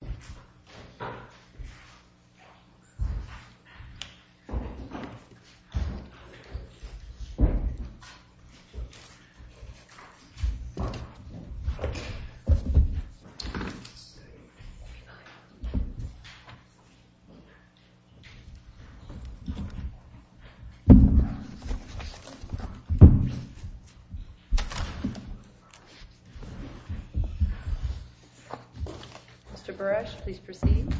Parallel Networks, Inc. v. Parallel Networks, Inc. v. Parallel Networks, Inc. v. Parallel Networks, Inc. v. Parallel Networks, Inc.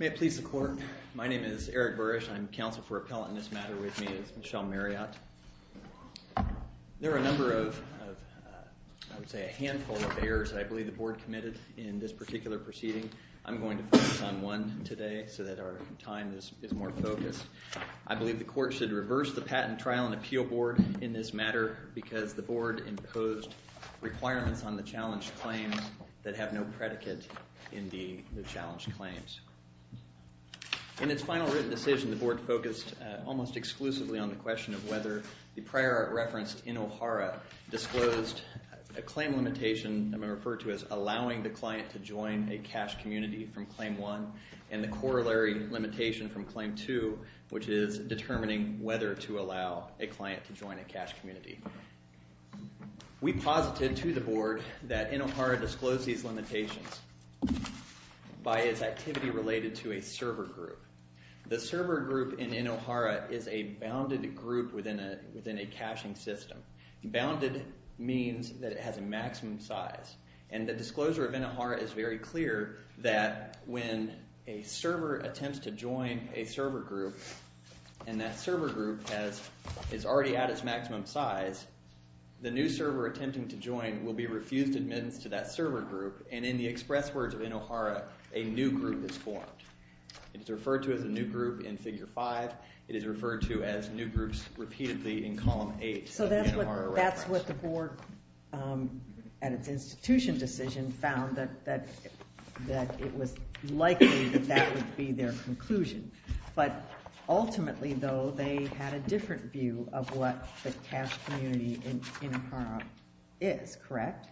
May it please the Court. My name is Eric Burrish. I'm counsel for appellant in this matter with me is Michelle Marriott. There are a number of, I would say a handful of errors that I believe the Board committed in this particular proceeding. I'm going to focus on one today so that our time is more focused. I believe the Court should reverse the Patent Trial and Appeal Board in this matter because the Board imposed requirements on the challenged claims that have no predicate in the challenged claims. In its final written decision, the Board focused almost exclusively on the question of whether the prior art referenced in O'Hara disclosed a claim limitation I'm going to refer to as allowing the client to join a cash community from claim one and the corollary limitation from claim two, which is determining whether to allow a client to join a cash community. We posited to the Board that in O'Hara disclosed these limitations by its activity related to a server group. The server group in O'Hara is a bounded group within a caching system. Bounded means that it has a maximum size. The disclosure of O'Hara is very clear that when a server attempts to join a server group and that server group is already at its maximum size, the new server attempting to join will be refused admittance to that server group and in the express words of O'Hara, a new group is formed. It's referred to as a new group in Figure 5. It is referred to as new groups repeatedly in Column 8. So that's what the Board at its institution decision found that it was likely that that would be their conclusion. But ultimately, though, they had a different view of what the cash community in O'Hara is, correct?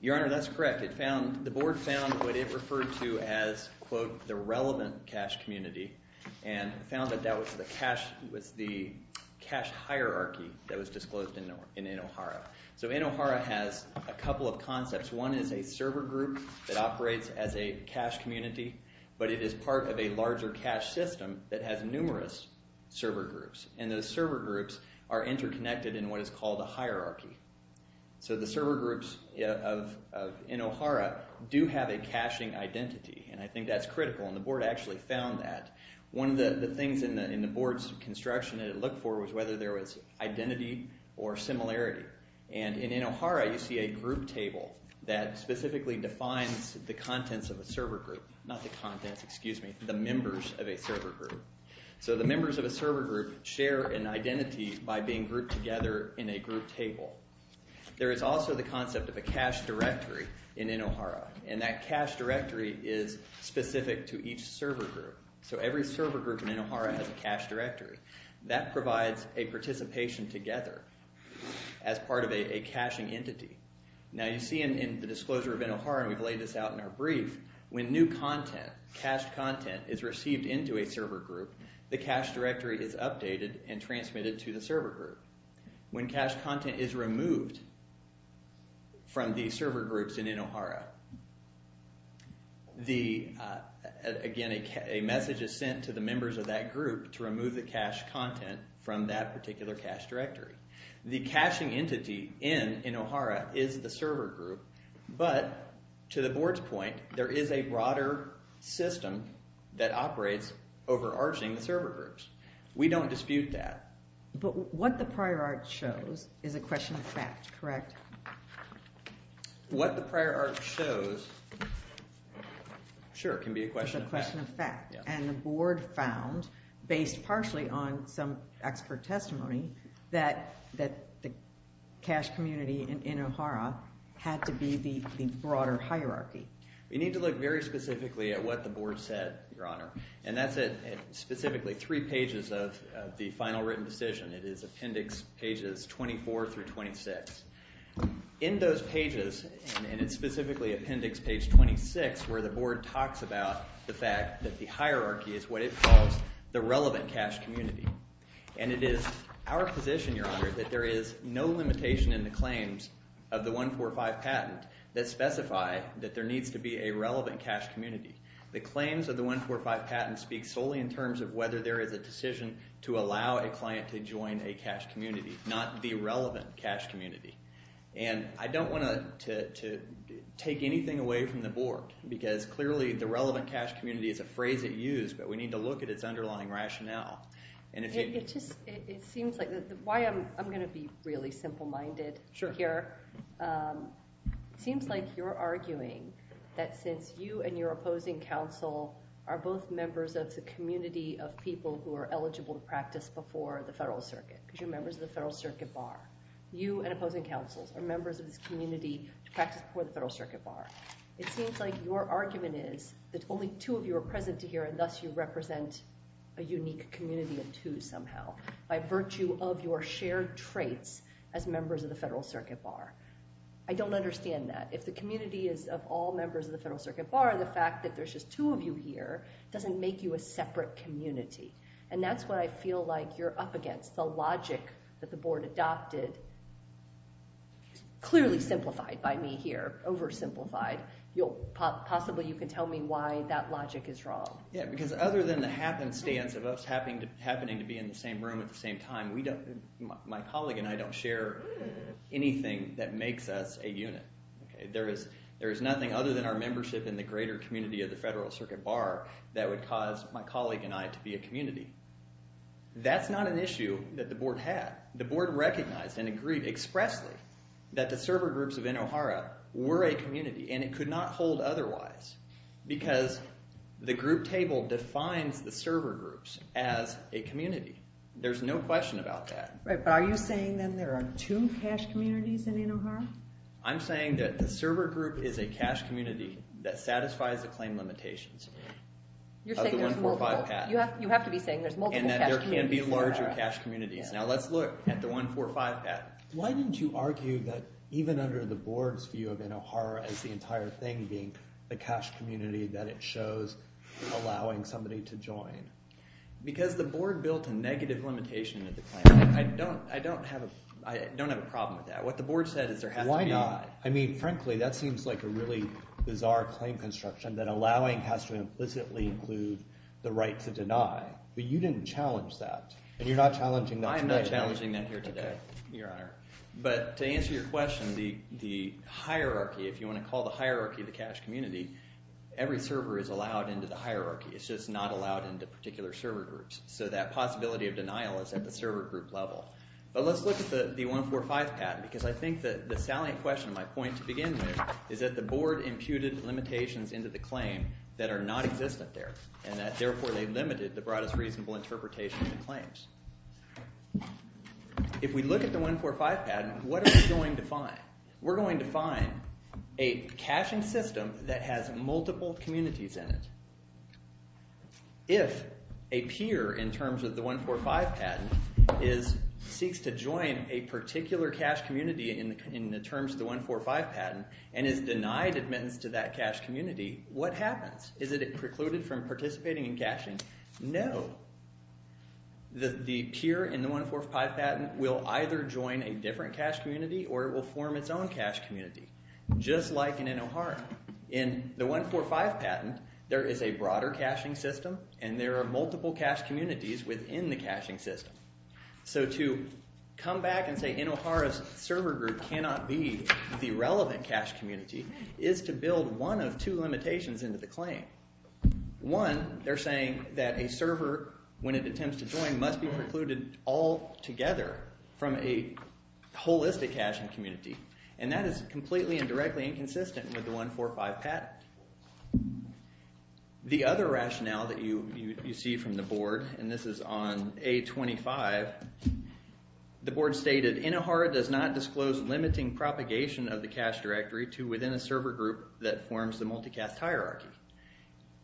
Your Honor, that's correct. The Board found what it referred to as, quote, the relevant cash community and found that that was the cash hierarchy that was disclosed in InoHara. So InoHara has a couple of concepts. One is a server group that operates as a cash community, but it is part of a larger cash system that has numerous server groups, and those server groups are interconnected in what is called a hierarchy. So the server groups of InoHara do have a caching identity, and I think that's critical, and the Board actually found that. One of the things in the Board's construction that it looked for was whether there was identity or similarity, and in InoHara you see a group table that specifically defines the contents of a server group, not the contents, excuse me, the members of a server group. So the members of a server group share an identity by being grouped together in a group table. There is also the concept of a cache directory in InoHara, and that cache directory is specific to each server group. So every server group in InoHara has a cache directory. That provides a participation together as part of a caching entity. Now you see in the disclosure of InoHara, and we've laid this out in our brief, when new content, cached content, is received into a server group, the cache directory is updated and transmitted to the server group. When cached content is removed from the server groups in InoHara, again, a message is sent to the members of that group to remove the cached content from that particular cache directory. The caching entity in InoHara is the server group, but to the Board's point, there is a broader system that operates overarching the server groups. We don't dispute that. But what the prior art shows is a question of fact, correct? What the prior art shows, sure, can be a question of fact. And the Board found, based partially on some expert testimony, that the cache community in InoHara had to be the broader hierarchy. We need to look very specifically at what the Board said, Your Honor. And that's at specifically three pages of the final written decision. It is appendix pages 24 through 26. In those pages, and it's specifically appendix page 26, where the Board talks about the fact that the hierarchy is what it calls the relevant cache community. And it is our position, Your Honor, that there is no limitation in the claims of the 145 patent that specify that there needs to be a relevant cache community. The claims of the 145 patent speak solely in terms of whether there is a decision to allow a client to join a cache community, not the relevant cache community. And I don't want to take anything away from the Board, because clearly the relevant cache community is a phrase at use, but we need to look at its underlying rationale. It seems like, why I'm going to be really simple-minded here, it seems like you're arguing that since you and your opposing counsel are both members of the community of people who are eligible to practice before the Federal Circuit, because you're members of the Federal Circuit Bar, you and opposing counsels are members of this community to practice before the Federal Circuit Bar. It seems like your argument is that only two of you are present here, and thus you represent a unique community of two somehow, by virtue of your shared traits as members of the Federal Circuit Bar. I don't understand that. If the community is of all members of the Federal Circuit Bar, the fact that there's just two of you here doesn't make you a separate community. And that's what I feel like you're up against. The logic that the Board adopted is clearly simplified by me here, oversimplified. Possibly you can tell me why that logic is wrong. Yeah, because other than the happenstance of us happening to be in the same room at the same time, my colleague and I don't share anything that makes us a unit. There is nothing other than our membership in the greater community of the Federal Circuit Bar that would cause my colleague and I to be a community. That's not an issue that the Board had. The Board recognized and agreed expressly that the server groups of Inohara were a community, and it could not hold otherwise because the group table defines the server groups as a community. There's no question about that. But are you saying that there are two cache communities in Inohara? I'm saying that the server group is a cache community that satisfies the claim limitations of the 145 Act. You have to be saying there's multiple cache communities in Inohara. And that there can be larger cache communities. Now let's look at the 145 Act. Why didn't you argue that even under the Board's view of Inohara as the entire thing being the cache community that it shows allowing somebody to join? Because the Board built a negative limitation of the claim. I don't have a problem with that. What the Board said is there has to be— Why not? I mean, frankly, that seems like a really bizarre claim construction that allowing has to implicitly include the right to deny. But you didn't challenge that, and you're not challenging that today. But to answer your question, the hierarchy, if you want to call the hierarchy the cache community, every server is allowed into the hierarchy. It's just not allowed into particular server groups. So that possibility of denial is at the server group level. But let's look at the 145 Act, because I think the salient question, my point to begin with, is that the Board imputed limitations into the claim that are not existent there. And that, therefore, they limited the broadest reasonable interpretation of the claims. If we look at the 145 Patent, what are we going to find? We're going to find a caching system that has multiple communities in it. If a peer in terms of the 145 Patent seeks to join a particular cache community in the terms of the 145 Patent and is denied admittance to that cache community, what happens? Is it precluded from participating in caching? No, the peer in the 145 Patent will either join a different cache community or it will form its own cache community, just like in InoHara. In the 145 Patent, there is a broader caching system and there are multiple cache communities within the caching system. So to come back and say InoHara's server group cannot be the relevant cache community is to build one of two limitations into the claim. One, they're saying that a server, when it attempts to join, must be precluded altogether from a holistic caching community. And that is completely and directly inconsistent with the 145 Patent. The other rationale that you see from the Board, and this is on A25, the Board stated InoHara does not disclose limiting propagation of the cache directory to within a server group that forms the multicache hierarchy.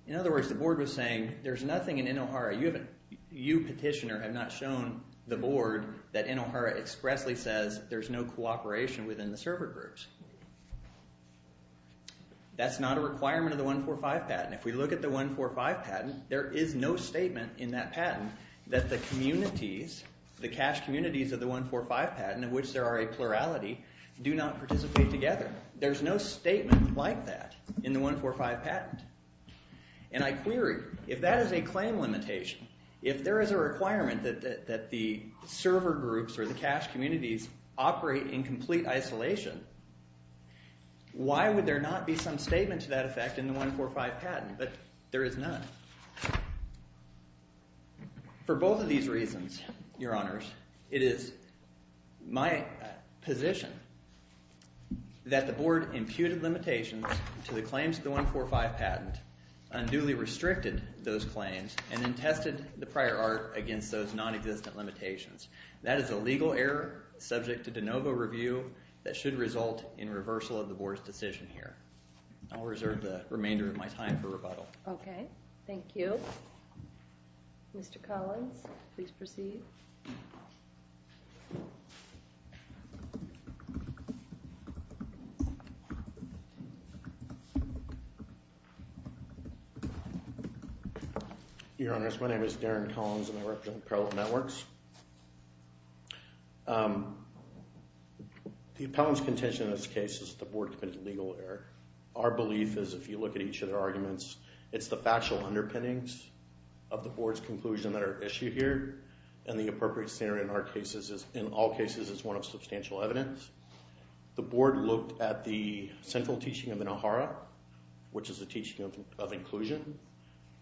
In other words, the Board was saying there's nothing in InoHara, you petitioner have not shown the Board that InoHara expressly says there's no cooperation within the server groups. That's not a requirement of the 145 Patent. If we look at the 145 Patent, there is no statement in that patent that the communities, the cache communities of the 145 Patent, in which there are a plurality, do not participate together. There's no statement like that in the 145 Patent. And I query, if that is a claim limitation, if there is a requirement that the server groups or the cache communities operate in complete isolation, why would there not be some statement to that effect in the 145 Patent? But there is none. For both of these reasons, Your Honors, it is my position that the Board imputed limitations to the claims of the 145 Patent, unduly restricted those claims, and then tested the prior art against those non-existent limitations. That is a legal error subject to de novo review that should result in reversal of the Board's decision here. I'll reserve the remainder of my time for rebuttal. Okay. Thank you. Mr. Collins, please proceed. Thank you. Your Honors, my name is Darren Collins, and I represent Appellate Networks. The appellant's contention in this case is that the Board committed a legal error. Our belief is, if you look at each of their arguments, it's the factual underpinnings of the Board's conclusion that are issued here, and the appropriate standard in all cases is one of substantial evidence. The Board looked at the central teaching of Inohara, which is a teaching of inclusion.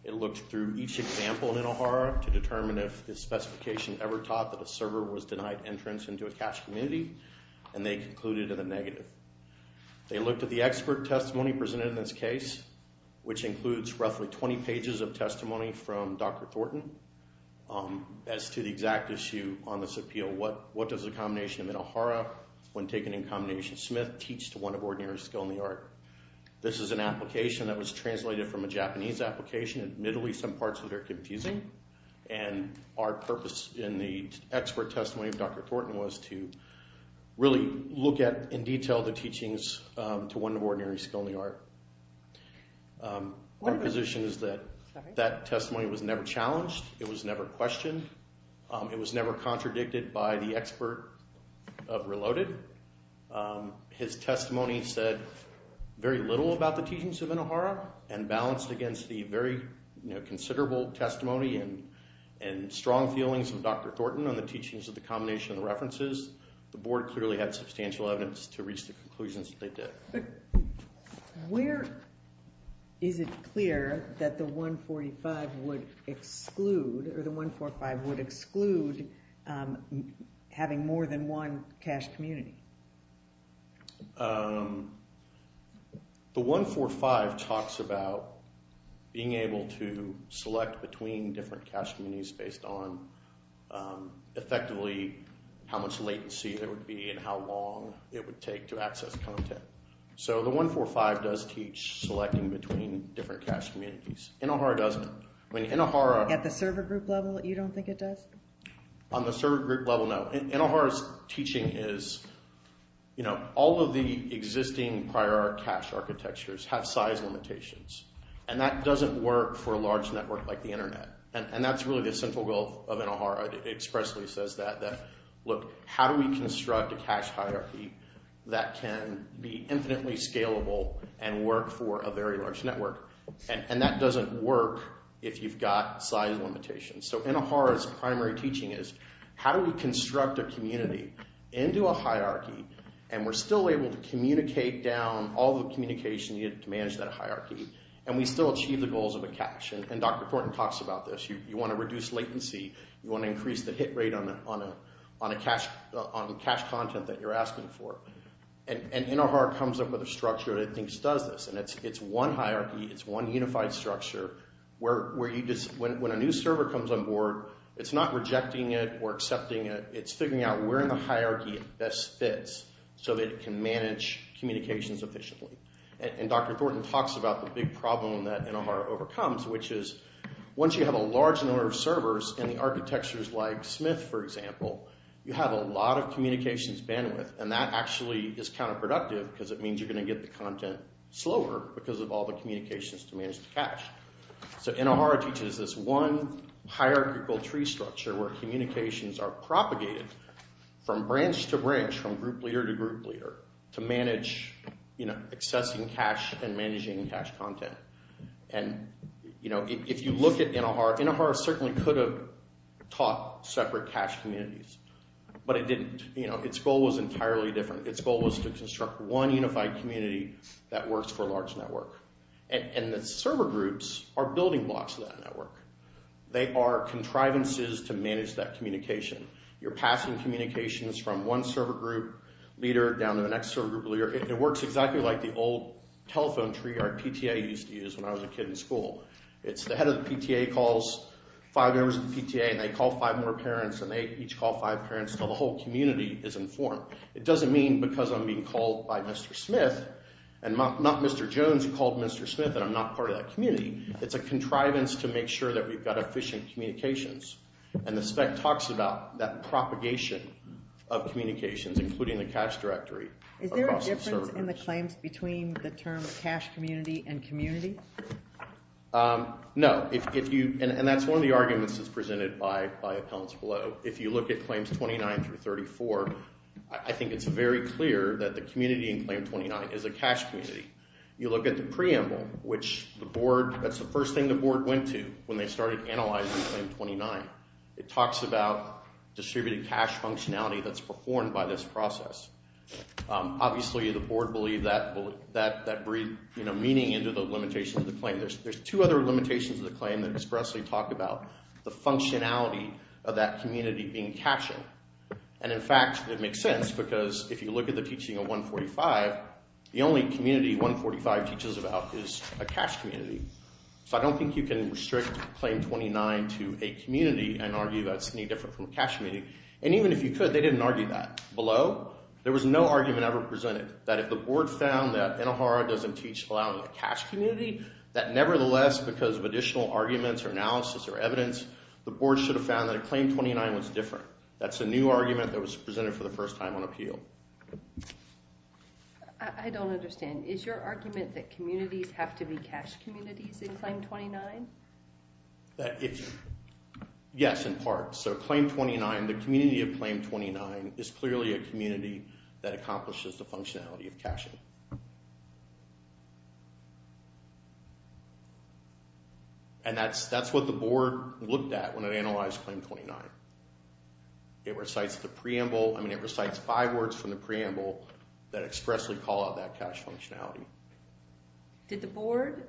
It looked through each example in Inohara to determine if the specification ever taught that a server was denied entrance into a cash community, and they concluded in a negative. They looked at the expert testimony presented in this case, which includes roughly 20 pages of testimony from Dr. Thornton, as to the exact issue on this appeal. What does a combination of Inohara, when taken in combination of Smith, teach to one of ordinary skill in the art? This is an application that was translated from a Japanese application. Admittedly, some parts of it are confusing, and our purpose in the expert testimony of Dr. Thornton was to really look at, in detail, the teachings to one of ordinary skill in the art. Our position is that that testimony was never challenged. It was never questioned. It was never contradicted by the expert of Reloaded. His testimony said very little about the teachings of Inohara, and balanced against the very considerable testimony and strong feelings of Dr. Thornton on the teachings of the combination of the references, the Board clearly had substantial evidence to reach the conclusions that they did. Where is it clear that the 145 would exclude, or the 145 would exclude having more than one cash community? The 145 talks about being able to select between different cash communities based on, effectively, how much latency there would be and how long it would take to access content. The 145 does teach selecting between different cash communities. Inohara doesn't. At the server group level, you don't think it does? On the server group level, no. Inohara's teaching is, all of the existing prior cash architectures have size limitations, and that doesn't work for a large network like the Internet. That's really the central goal of Inohara. It expressly says that. Look, how do we construct a cash hierarchy that can be infinitely scalable and work for a very large network? And that doesn't work if you've got size limitations. So Inohara's primary teaching is, how do we construct a community into a hierarchy, and we're still able to communicate down all the communication needed to manage that hierarchy, and we still achieve the goals of a cash? And Dr. Thornton talks about this. You want to reduce latency. You want to increase the hit rate on the cash content that you're asking for. And Inohara comes up with a structure that I think does this, and it's one hierarchy. It's one unified structure. When a new server comes on board, it's not rejecting it or accepting it. It's figuring out where in the hierarchy it best fits so that it can manage communications efficiently. And Dr. Thornton talks about the big problem that Inohara overcomes, which is, once you have a large number of servers and the architectures like Smith, for example, you have a lot of communications bandwidth, and that actually is counterproductive because it means you're going to get the content slower because of all the communications to manage the cash. So Inohara teaches this one hierarchical tree structure where communications are propagated from branch to branch, from group leader to group leader, to manage accessing cash and managing cash content. And if you look at Inohara, Inohara certainly could have taught separate cash communities, but it didn't. Its goal was entirely different. Its goal was to construct one unified community that works for a large network. And the server groups are building blocks of that network. They are contrivances to manage that communication. You're passing communications from one server group leader down to the next server group leader, and it works exactly like the old telephone tree our PTA used to use when I was a kid in school. It's the head of the PTA calls five members of the PTA, and they call five more parents, and they each call five parents until the whole community is informed. It doesn't mean because I'm being called by Mr. Smith, and not Mr. Jones called Mr. Smith, that I'm not part of that community. It's a contrivance to make sure that we've got efficient communications. And the spec talks about that propagation of communications, including the cash directory. Is there a difference in the claims between the term cash community and community? No. And that's one of the arguments that's presented by Appellants Below. If you look at Claims 29 through 34, I think it's very clear that the community in Claim 29 is a cash community. You look at the preamble, which that's the first thing the board went to when they started analyzing Claim 29. It talks about distributed cash functionality that's performed by this process. Obviously, the board believed that that breathed meaning into the limitations of the claim. There's two other limitations of the claim that expressly talk about the functionality of that community being cash. And, in fact, it makes sense because if you look at the teaching of 145, the only community 145 teaches about is a cash community. So I don't think you can restrict Claim 29 to a community and argue that's any different from a cash community. And even if you could, they didn't argue that. Below, there was no argument ever presented that if the board found that Inahara doesn't teach allowing a cash community, that nevertheless, because of additional arguments or analysis or evidence, the board should have found that a Claim 29 was different. That's a new argument that was presented for the first time on appeal. I don't understand. Is your argument that communities have to be cash communities in Claim 29? Yes, in part. So Claim 29, the community of Claim 29, is clearly a community that accomplishes the functionality of cashing. And that's what the board looked at when it analyzed Claim 29. It recites the preamble. I mean, it recites five words from the preamble that expressly call out that cash functionality. Did the board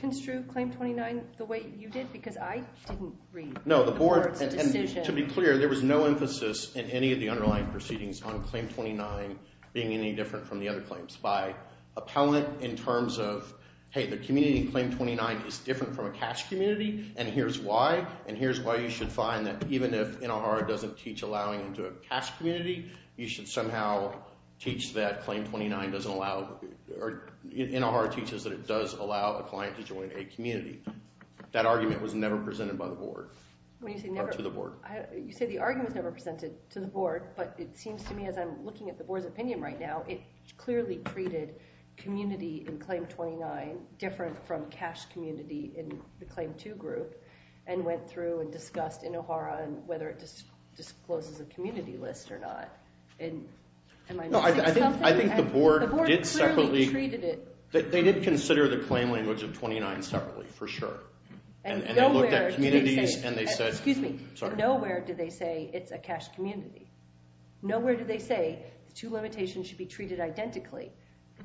construe Claim 29 the way you did? Because I didn't read the board's decision. To be clear, there was no emphasis in any of the underlying proceedings on Claim 29 being any different from the other claims. By appellant, in terms of, hey, the community in Claim 29 is different from a cash community, and here's why. And here's why you should find that even if Inahara doesn't teach allowing into a cash community, you should somehow teach that Claim 29 doesn't allow— Inahara teaches that it does allow a client to join a community. That argument was never presented by the board. When you say never— Or to the board. You say the argument was never presented to the board, but it seems to me as I'm looking at the board's opinion right now, it clearly treated community in Claim 29 different from cash community in the Claim 2 group and went through and discussed Inahara and whether it discloses a community list or not. Am I missing something? No, I think the board did separately— The board clearly treated it— They did consider the claim language of 29 separately, for sure. And they looked at communities and they said— Excuse me. Nowhere did they say it's a cash community. Nowhere did they say the two limitations should be treated identically,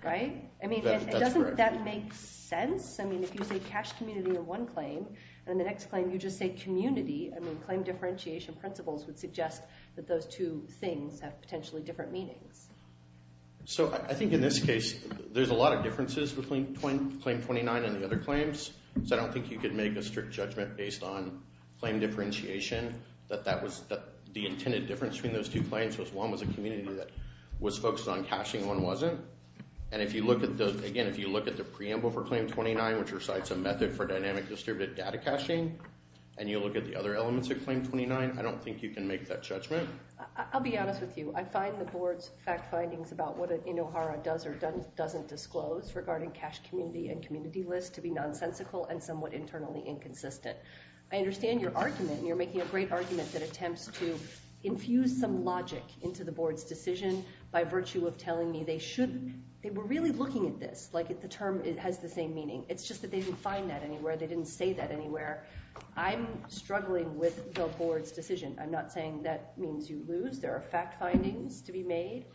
right? That's correct. I mean, doesn't that make sense? I mean, if you say cash community in one claim and in the next claim you just say community, I mean, claim differentiation principles would suggest that those two things have potentially different meanings. So I think in this case, there's a lot of differences between Claim 29 and the other claims, so I don't think you could make a strict judgment based on claim differentiation that the intended difference between those two claims was one was a community that was focused on cashing and one wasn't. And if you look at the— Again, if you look at the preamble for Claim 29, which recites a method for dynamic distributed data caching, and you look at the other elements of Claim 29, I don't think you can make that judgment. I'll be honest with you. I find the board's fact findings about what Inahara does or doesn't disclose regarding cash community and community list to be nonsensical and somewhat internally inconsistent. I understand your argument, and you're making a great argument that attempts to infuse some logic into the board's decision by virtue of telling me they should— they were really looking at this, like if the term has the same meaning. It's just that they didn't find that anywhere. They didn't say that anywhere. I'm struggling with the board's decision. I'm not saying that means you lose. There are fact findings to be made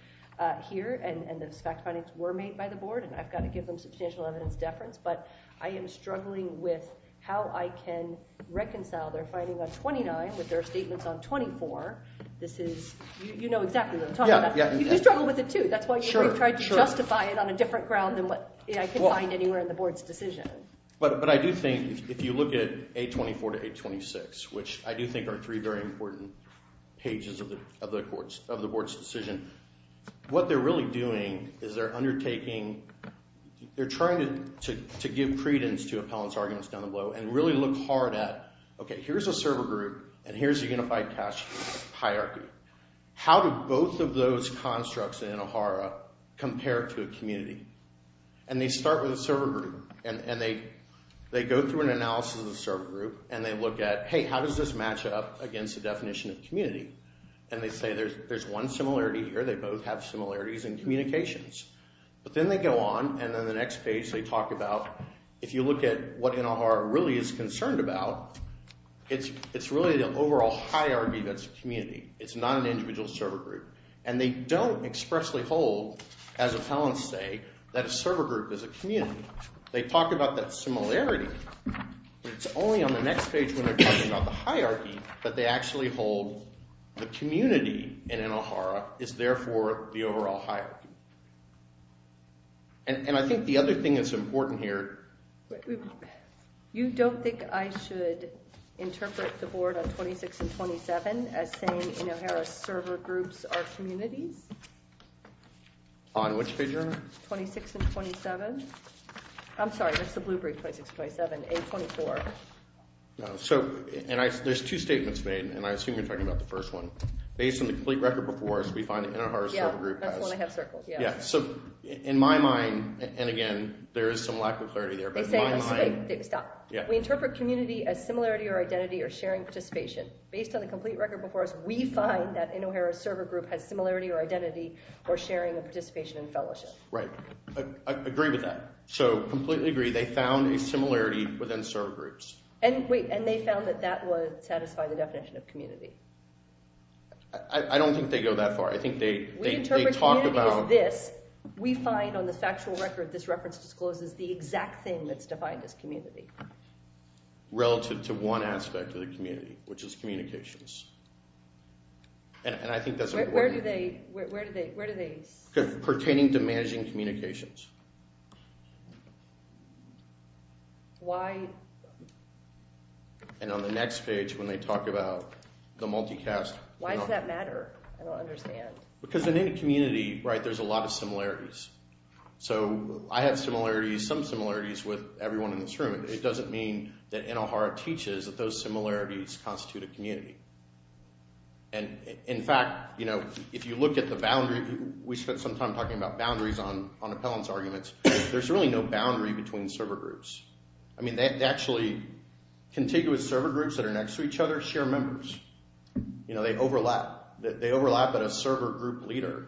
here, and those fact findings were made by the board, and I've got to give them substantial evidence deference, but I am struggling with how I can reconcile their finding on 29 with their statements on 24. This is—you know exactly what I'm talking about. You struggle with it too. That's why you've tried to justify it on a different ground than what I can find anywhere in the board's decision. But I do think if you look at 824 to 826, which I do think are three very important pages of the board's decision, what they're really doing is they're undertaking— they're trying to give credence to appellant's arguments down the blow and really look hard at, okay, here's a server group, and here's a unified cash hierarchy. How do both of those constructs in O'Hara compare to a community? And they start with a server group, and they go through an analysis of the server group, and they look at, hey, how does this match up against the definition of community? And they say there's one similarity here. They both have similarities in communications. But then they go on, and then the next page they talk about, if you look at what O'Hara really is concerned about, it's really the overall hierarchy that's a community. It's not an individual server group. And they don't expressly hold, as appellants say, that a server group is a community. They talk about that similarity, but it's only on the next page when they're talking about the hierarchy that they actually hold the community in O'Hara is therefore the overall hierarchy. And I think the other thing that's important here... You don't think I should interpret the board on 26 and 27 as saying in O'Hara server groups are communities? On which page are you on? 26 and 27. I'm sorry, that's the blue brief, 26, 27. A, 24. So there's two statements made, and I assume you're talking about the first one. Based on the complete record before us, we find that in O'Hara's server group... Yeah, that's the one I have circled. So in my mind, and again, there is some lack of clarity there, but in my mind... We interpret community as similarity or identity or sharing participation. Based on the complete record before us, we find that in O'Hara's server group has similarity or identity or sharing of participation and fellowship. Right. I agree with that. So completely agree, they found a similarity within server groups. And they found that that would satisfy the definition of community. I don't think they go that far. We interpret community as this. We find on the factual record this reference discloses the exact thing that's defined as community. Relative to one aspect of the community, which is communications. And I think that's important. Where do they... Pertaining to managing communications. Why... And on the next page, when they talk about the multicast... Why does that matter? I don't understand. Because in any community, right, there's a lot of similarities. So I have similarities, some similarities with everyone in this room. It doesn't mean that in O'Hara teaches that those similarities constitute a community. And in fact, you know, if you look at the boundary... We spent some time talking about boundaries on appellants. There's really no boundary between server groups. I mean, actually, contiguous server groups that are next to each other share members. You know, they overlap. They overlap at a server group leader.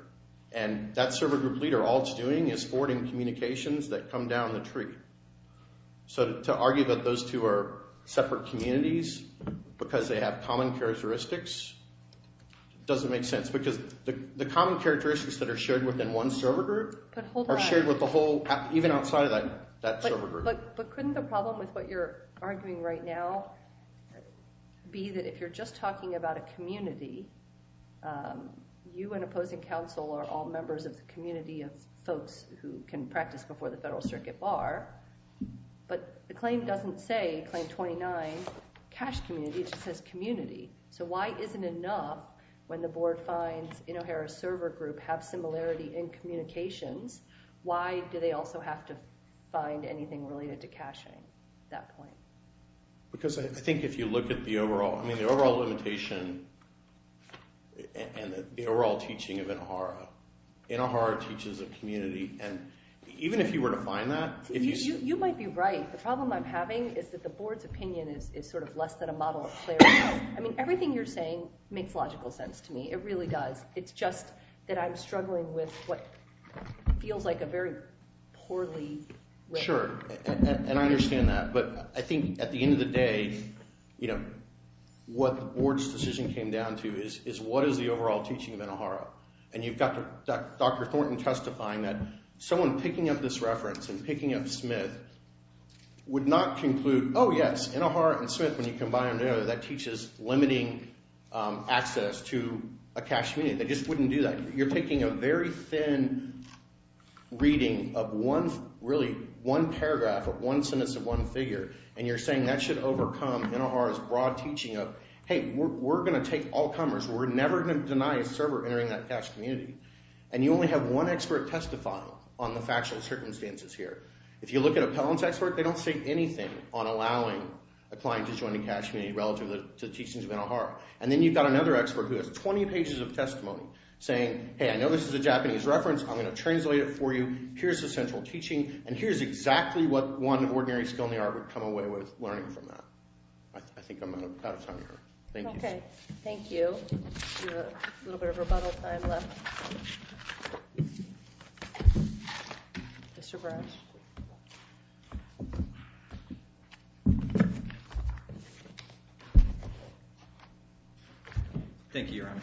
And that server group leader, all it's doing is forwarding communications that come down the tree. So to argue that those two are separate communities because they have common characteristics doesn't make sense. Because the common characteristics that are shared within one server group are shared with the whole, even outside of that server group. But couldn't the problem with what you're arguing right now be that if you're just talking about a community, you and opposing counsel are all members of the community of folks who can practice before the Federal Circuit Bar, but the claim doesn't say Claim 29, cash community, it just says community. So why isn't it enough when the board finds in O'Hara's server group have similarity in communications, why do they also have to find anything related to cashing at that point? Because I think if you look at the overall limitation and the overall teaching of O'Hara, O'Hara teaches a community, and even if you were to find that... You might be right. The problem I'm having is that the board's opinion is sort of less than a model of clarity. I mean, everything you're saying makes logical sense to me. It really does. It's just that I'm struggling with what feels like a very poorly written... Sure, and I understand that. But I think at the end of the day, what the board's decision came down to is what is the overall teaching of O'Hara? And you've got Dr. Thornton testifying that someone picking up this reference and picking up Smith would not conclude, oh, yes, in O'Hara and Smith, when you combine them together, that teaches limiting access to a cash community. They just wouldn't do that. You're taking a very thin reading of one, really, one paragraph, one sentence of one figure, and you're saying that should overcome O'Hara's broad teaching of, hey, we're going to take all comers. We're never going to deny a server entering that cash community. And you only have one expert testifying on the factual circumstances here. If you look at a Pelham's expert, they don't say anything on allowing a client to join a cash community relative to the teachings of O'Hara. And then you've got another expert who has 20 pages of testimony saying, hey, I know this is a Japanese reference. I'm going to translate it for you. Here's the central teaching, and here's exactly what one ordinary skill in the art would come away with learning from that. I think I'm out of time here. Thank you. Okay, thank you. We have a little bit of rebuttal time left. Mr. Brash. Thank you, Your Honor.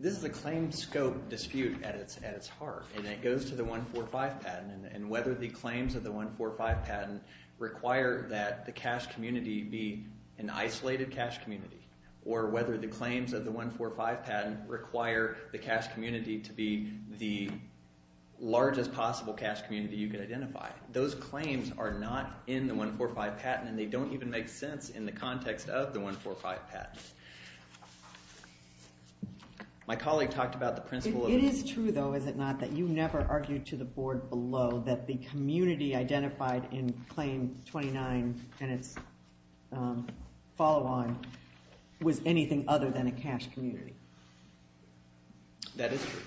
This is a claim scope dispute at its heart, and it goes to the 145 patent, and whether the claims of the 145 patent require that the cash community be an isolated cash community or whether the claims of the 145 patent require the cash community to be the largest possible cash community you could identify. Those claims are not in the 145 patent, and they don't even make sense in the context of the 145 patent. My colleague talked about the principle of the- It is true, though, is it not, that you never argued to the board below that the community identified in Claim 29 and its follow-on was anything other than a cash community? That is true.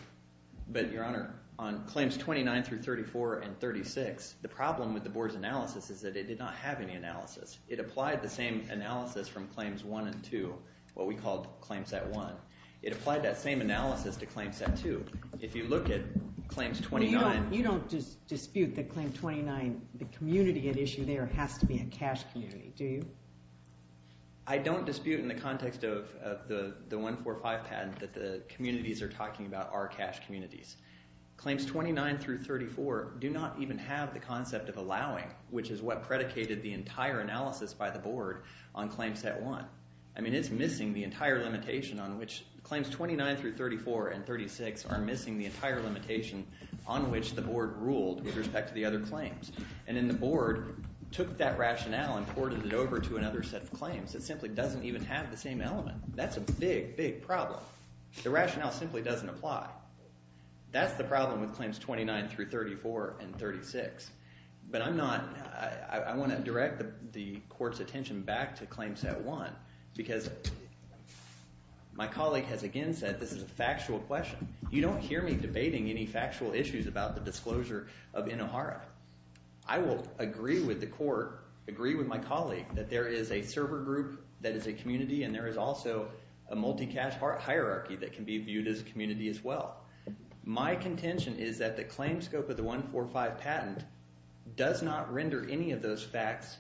But, Your Honor, on Claims 29 through 34 and 36, the problem with the board's analysis is that it did not have any analysis. It applied the same analysis from Claims 1 and 2, what we called Claim Set 1. It applied that same analysis to Claim Set 2. If you look at Claims 29- You don't dispute that Claim 29, the community at issue there, has to be a cash community, do you? I don't dispute in the context of the 145 patent that the communities are talking about are cash communities. Claims 29 through 34 do not even have the concept of allowing, which is what predicated the entire analysis by the board on Claim Set 1. I mean, it's missing the entire limitation on which- the board ruled with respect to the other claims. And then the board took that rationale and ported it over to another set of claims. It simply doesn't even have the same element. That's a big, big problem. The rationale simply doesn't apply. That's the problem with Claims 29 through 34 and 36. But I'm not- I want to direct the court's attention back to Claim Set 1 because my colleague has again said this is a factual question. You don't hear me debating any factual issues about the disclosure of Inohara. I will agree with the court, agree with my colleague, that there is a server group that is a community and there is also a multi-cash hierarchy that can be viewed as a community as well. My contention is that the claims scope of the 145 patent does not render any of those facts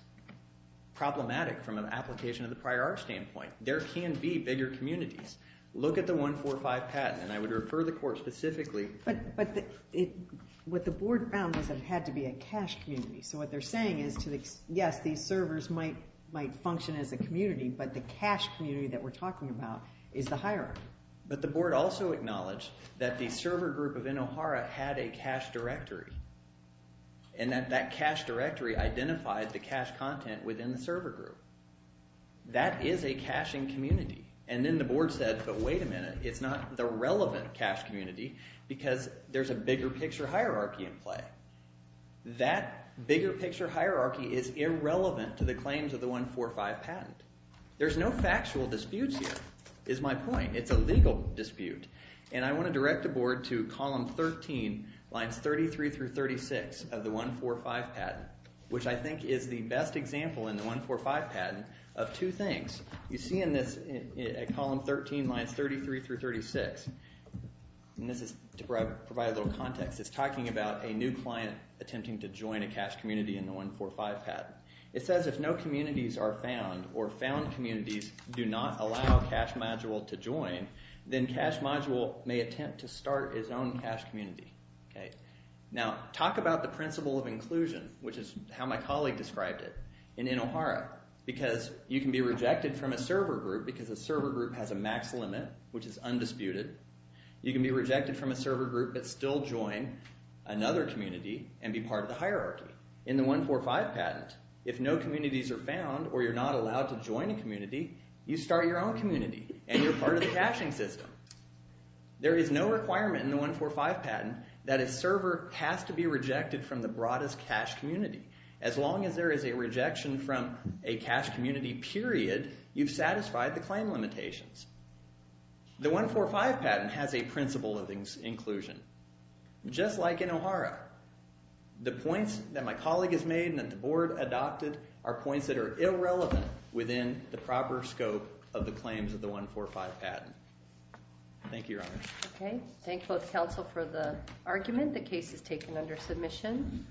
problematic from an application of the prior art standpoint. There can be bigger communities. Look at the 145 patent. And I would refer the court specifically- But what the board found was it had to be a cash community. So what they're saying is, yes, these servers might function as a community, but the cash community that we're talking about is the hierarchy. But the board also acknowledged that the server group of Inohara had a cash directory and that that cash directory identified the cash content within the server group. That is a cashing community. And then the board said, but wait a minute, it's not the relevant cash community because there's a bigger picture hierarchy in play. That bigger picture hierarchy is irrelevant to the claims of the 145 patent. There's no factual disputes here, is my point. It's a legal dispute. And I want to direct the board to column 13, lines 33 through 36 of the 145 patent, which I think is the best example in the 145 patent of two things. You see in this column 13, lines 33 through 36, and this is to provide a little context, it's talking about a new client attempting to join a cash community in the 145 patent. It says if no communities are found or found communities do not allow a cash module to join, then cash module may attempt to start its own cash community. Now talk about the principle of inclusion, which is how my colleague described it, in Inohara, because you can be rejected from a server group because a server group has a max limit, which is undisputed. You can be rejected from a server group but still join another community and be part of the hierarchy. In the 145 patent, if no communities are found or you're not allowed to join a community, you start your own community and you're part of the cashing system. There is no requirement in the 145 patent that a server has to be rejected from the broadest cash community. As long as there is a rejection from a cash community, period, you've satisfied the claim limitations. The 145 patent has a principle of inclusion, just like Inohara. The points that my colleague has made and that the board adopted are points that are irrelevant within the proper scope of the claims of the 145 patent. Thank you, Your Honor. Okay. Thank both counsel for the argument. The case is taken under submission.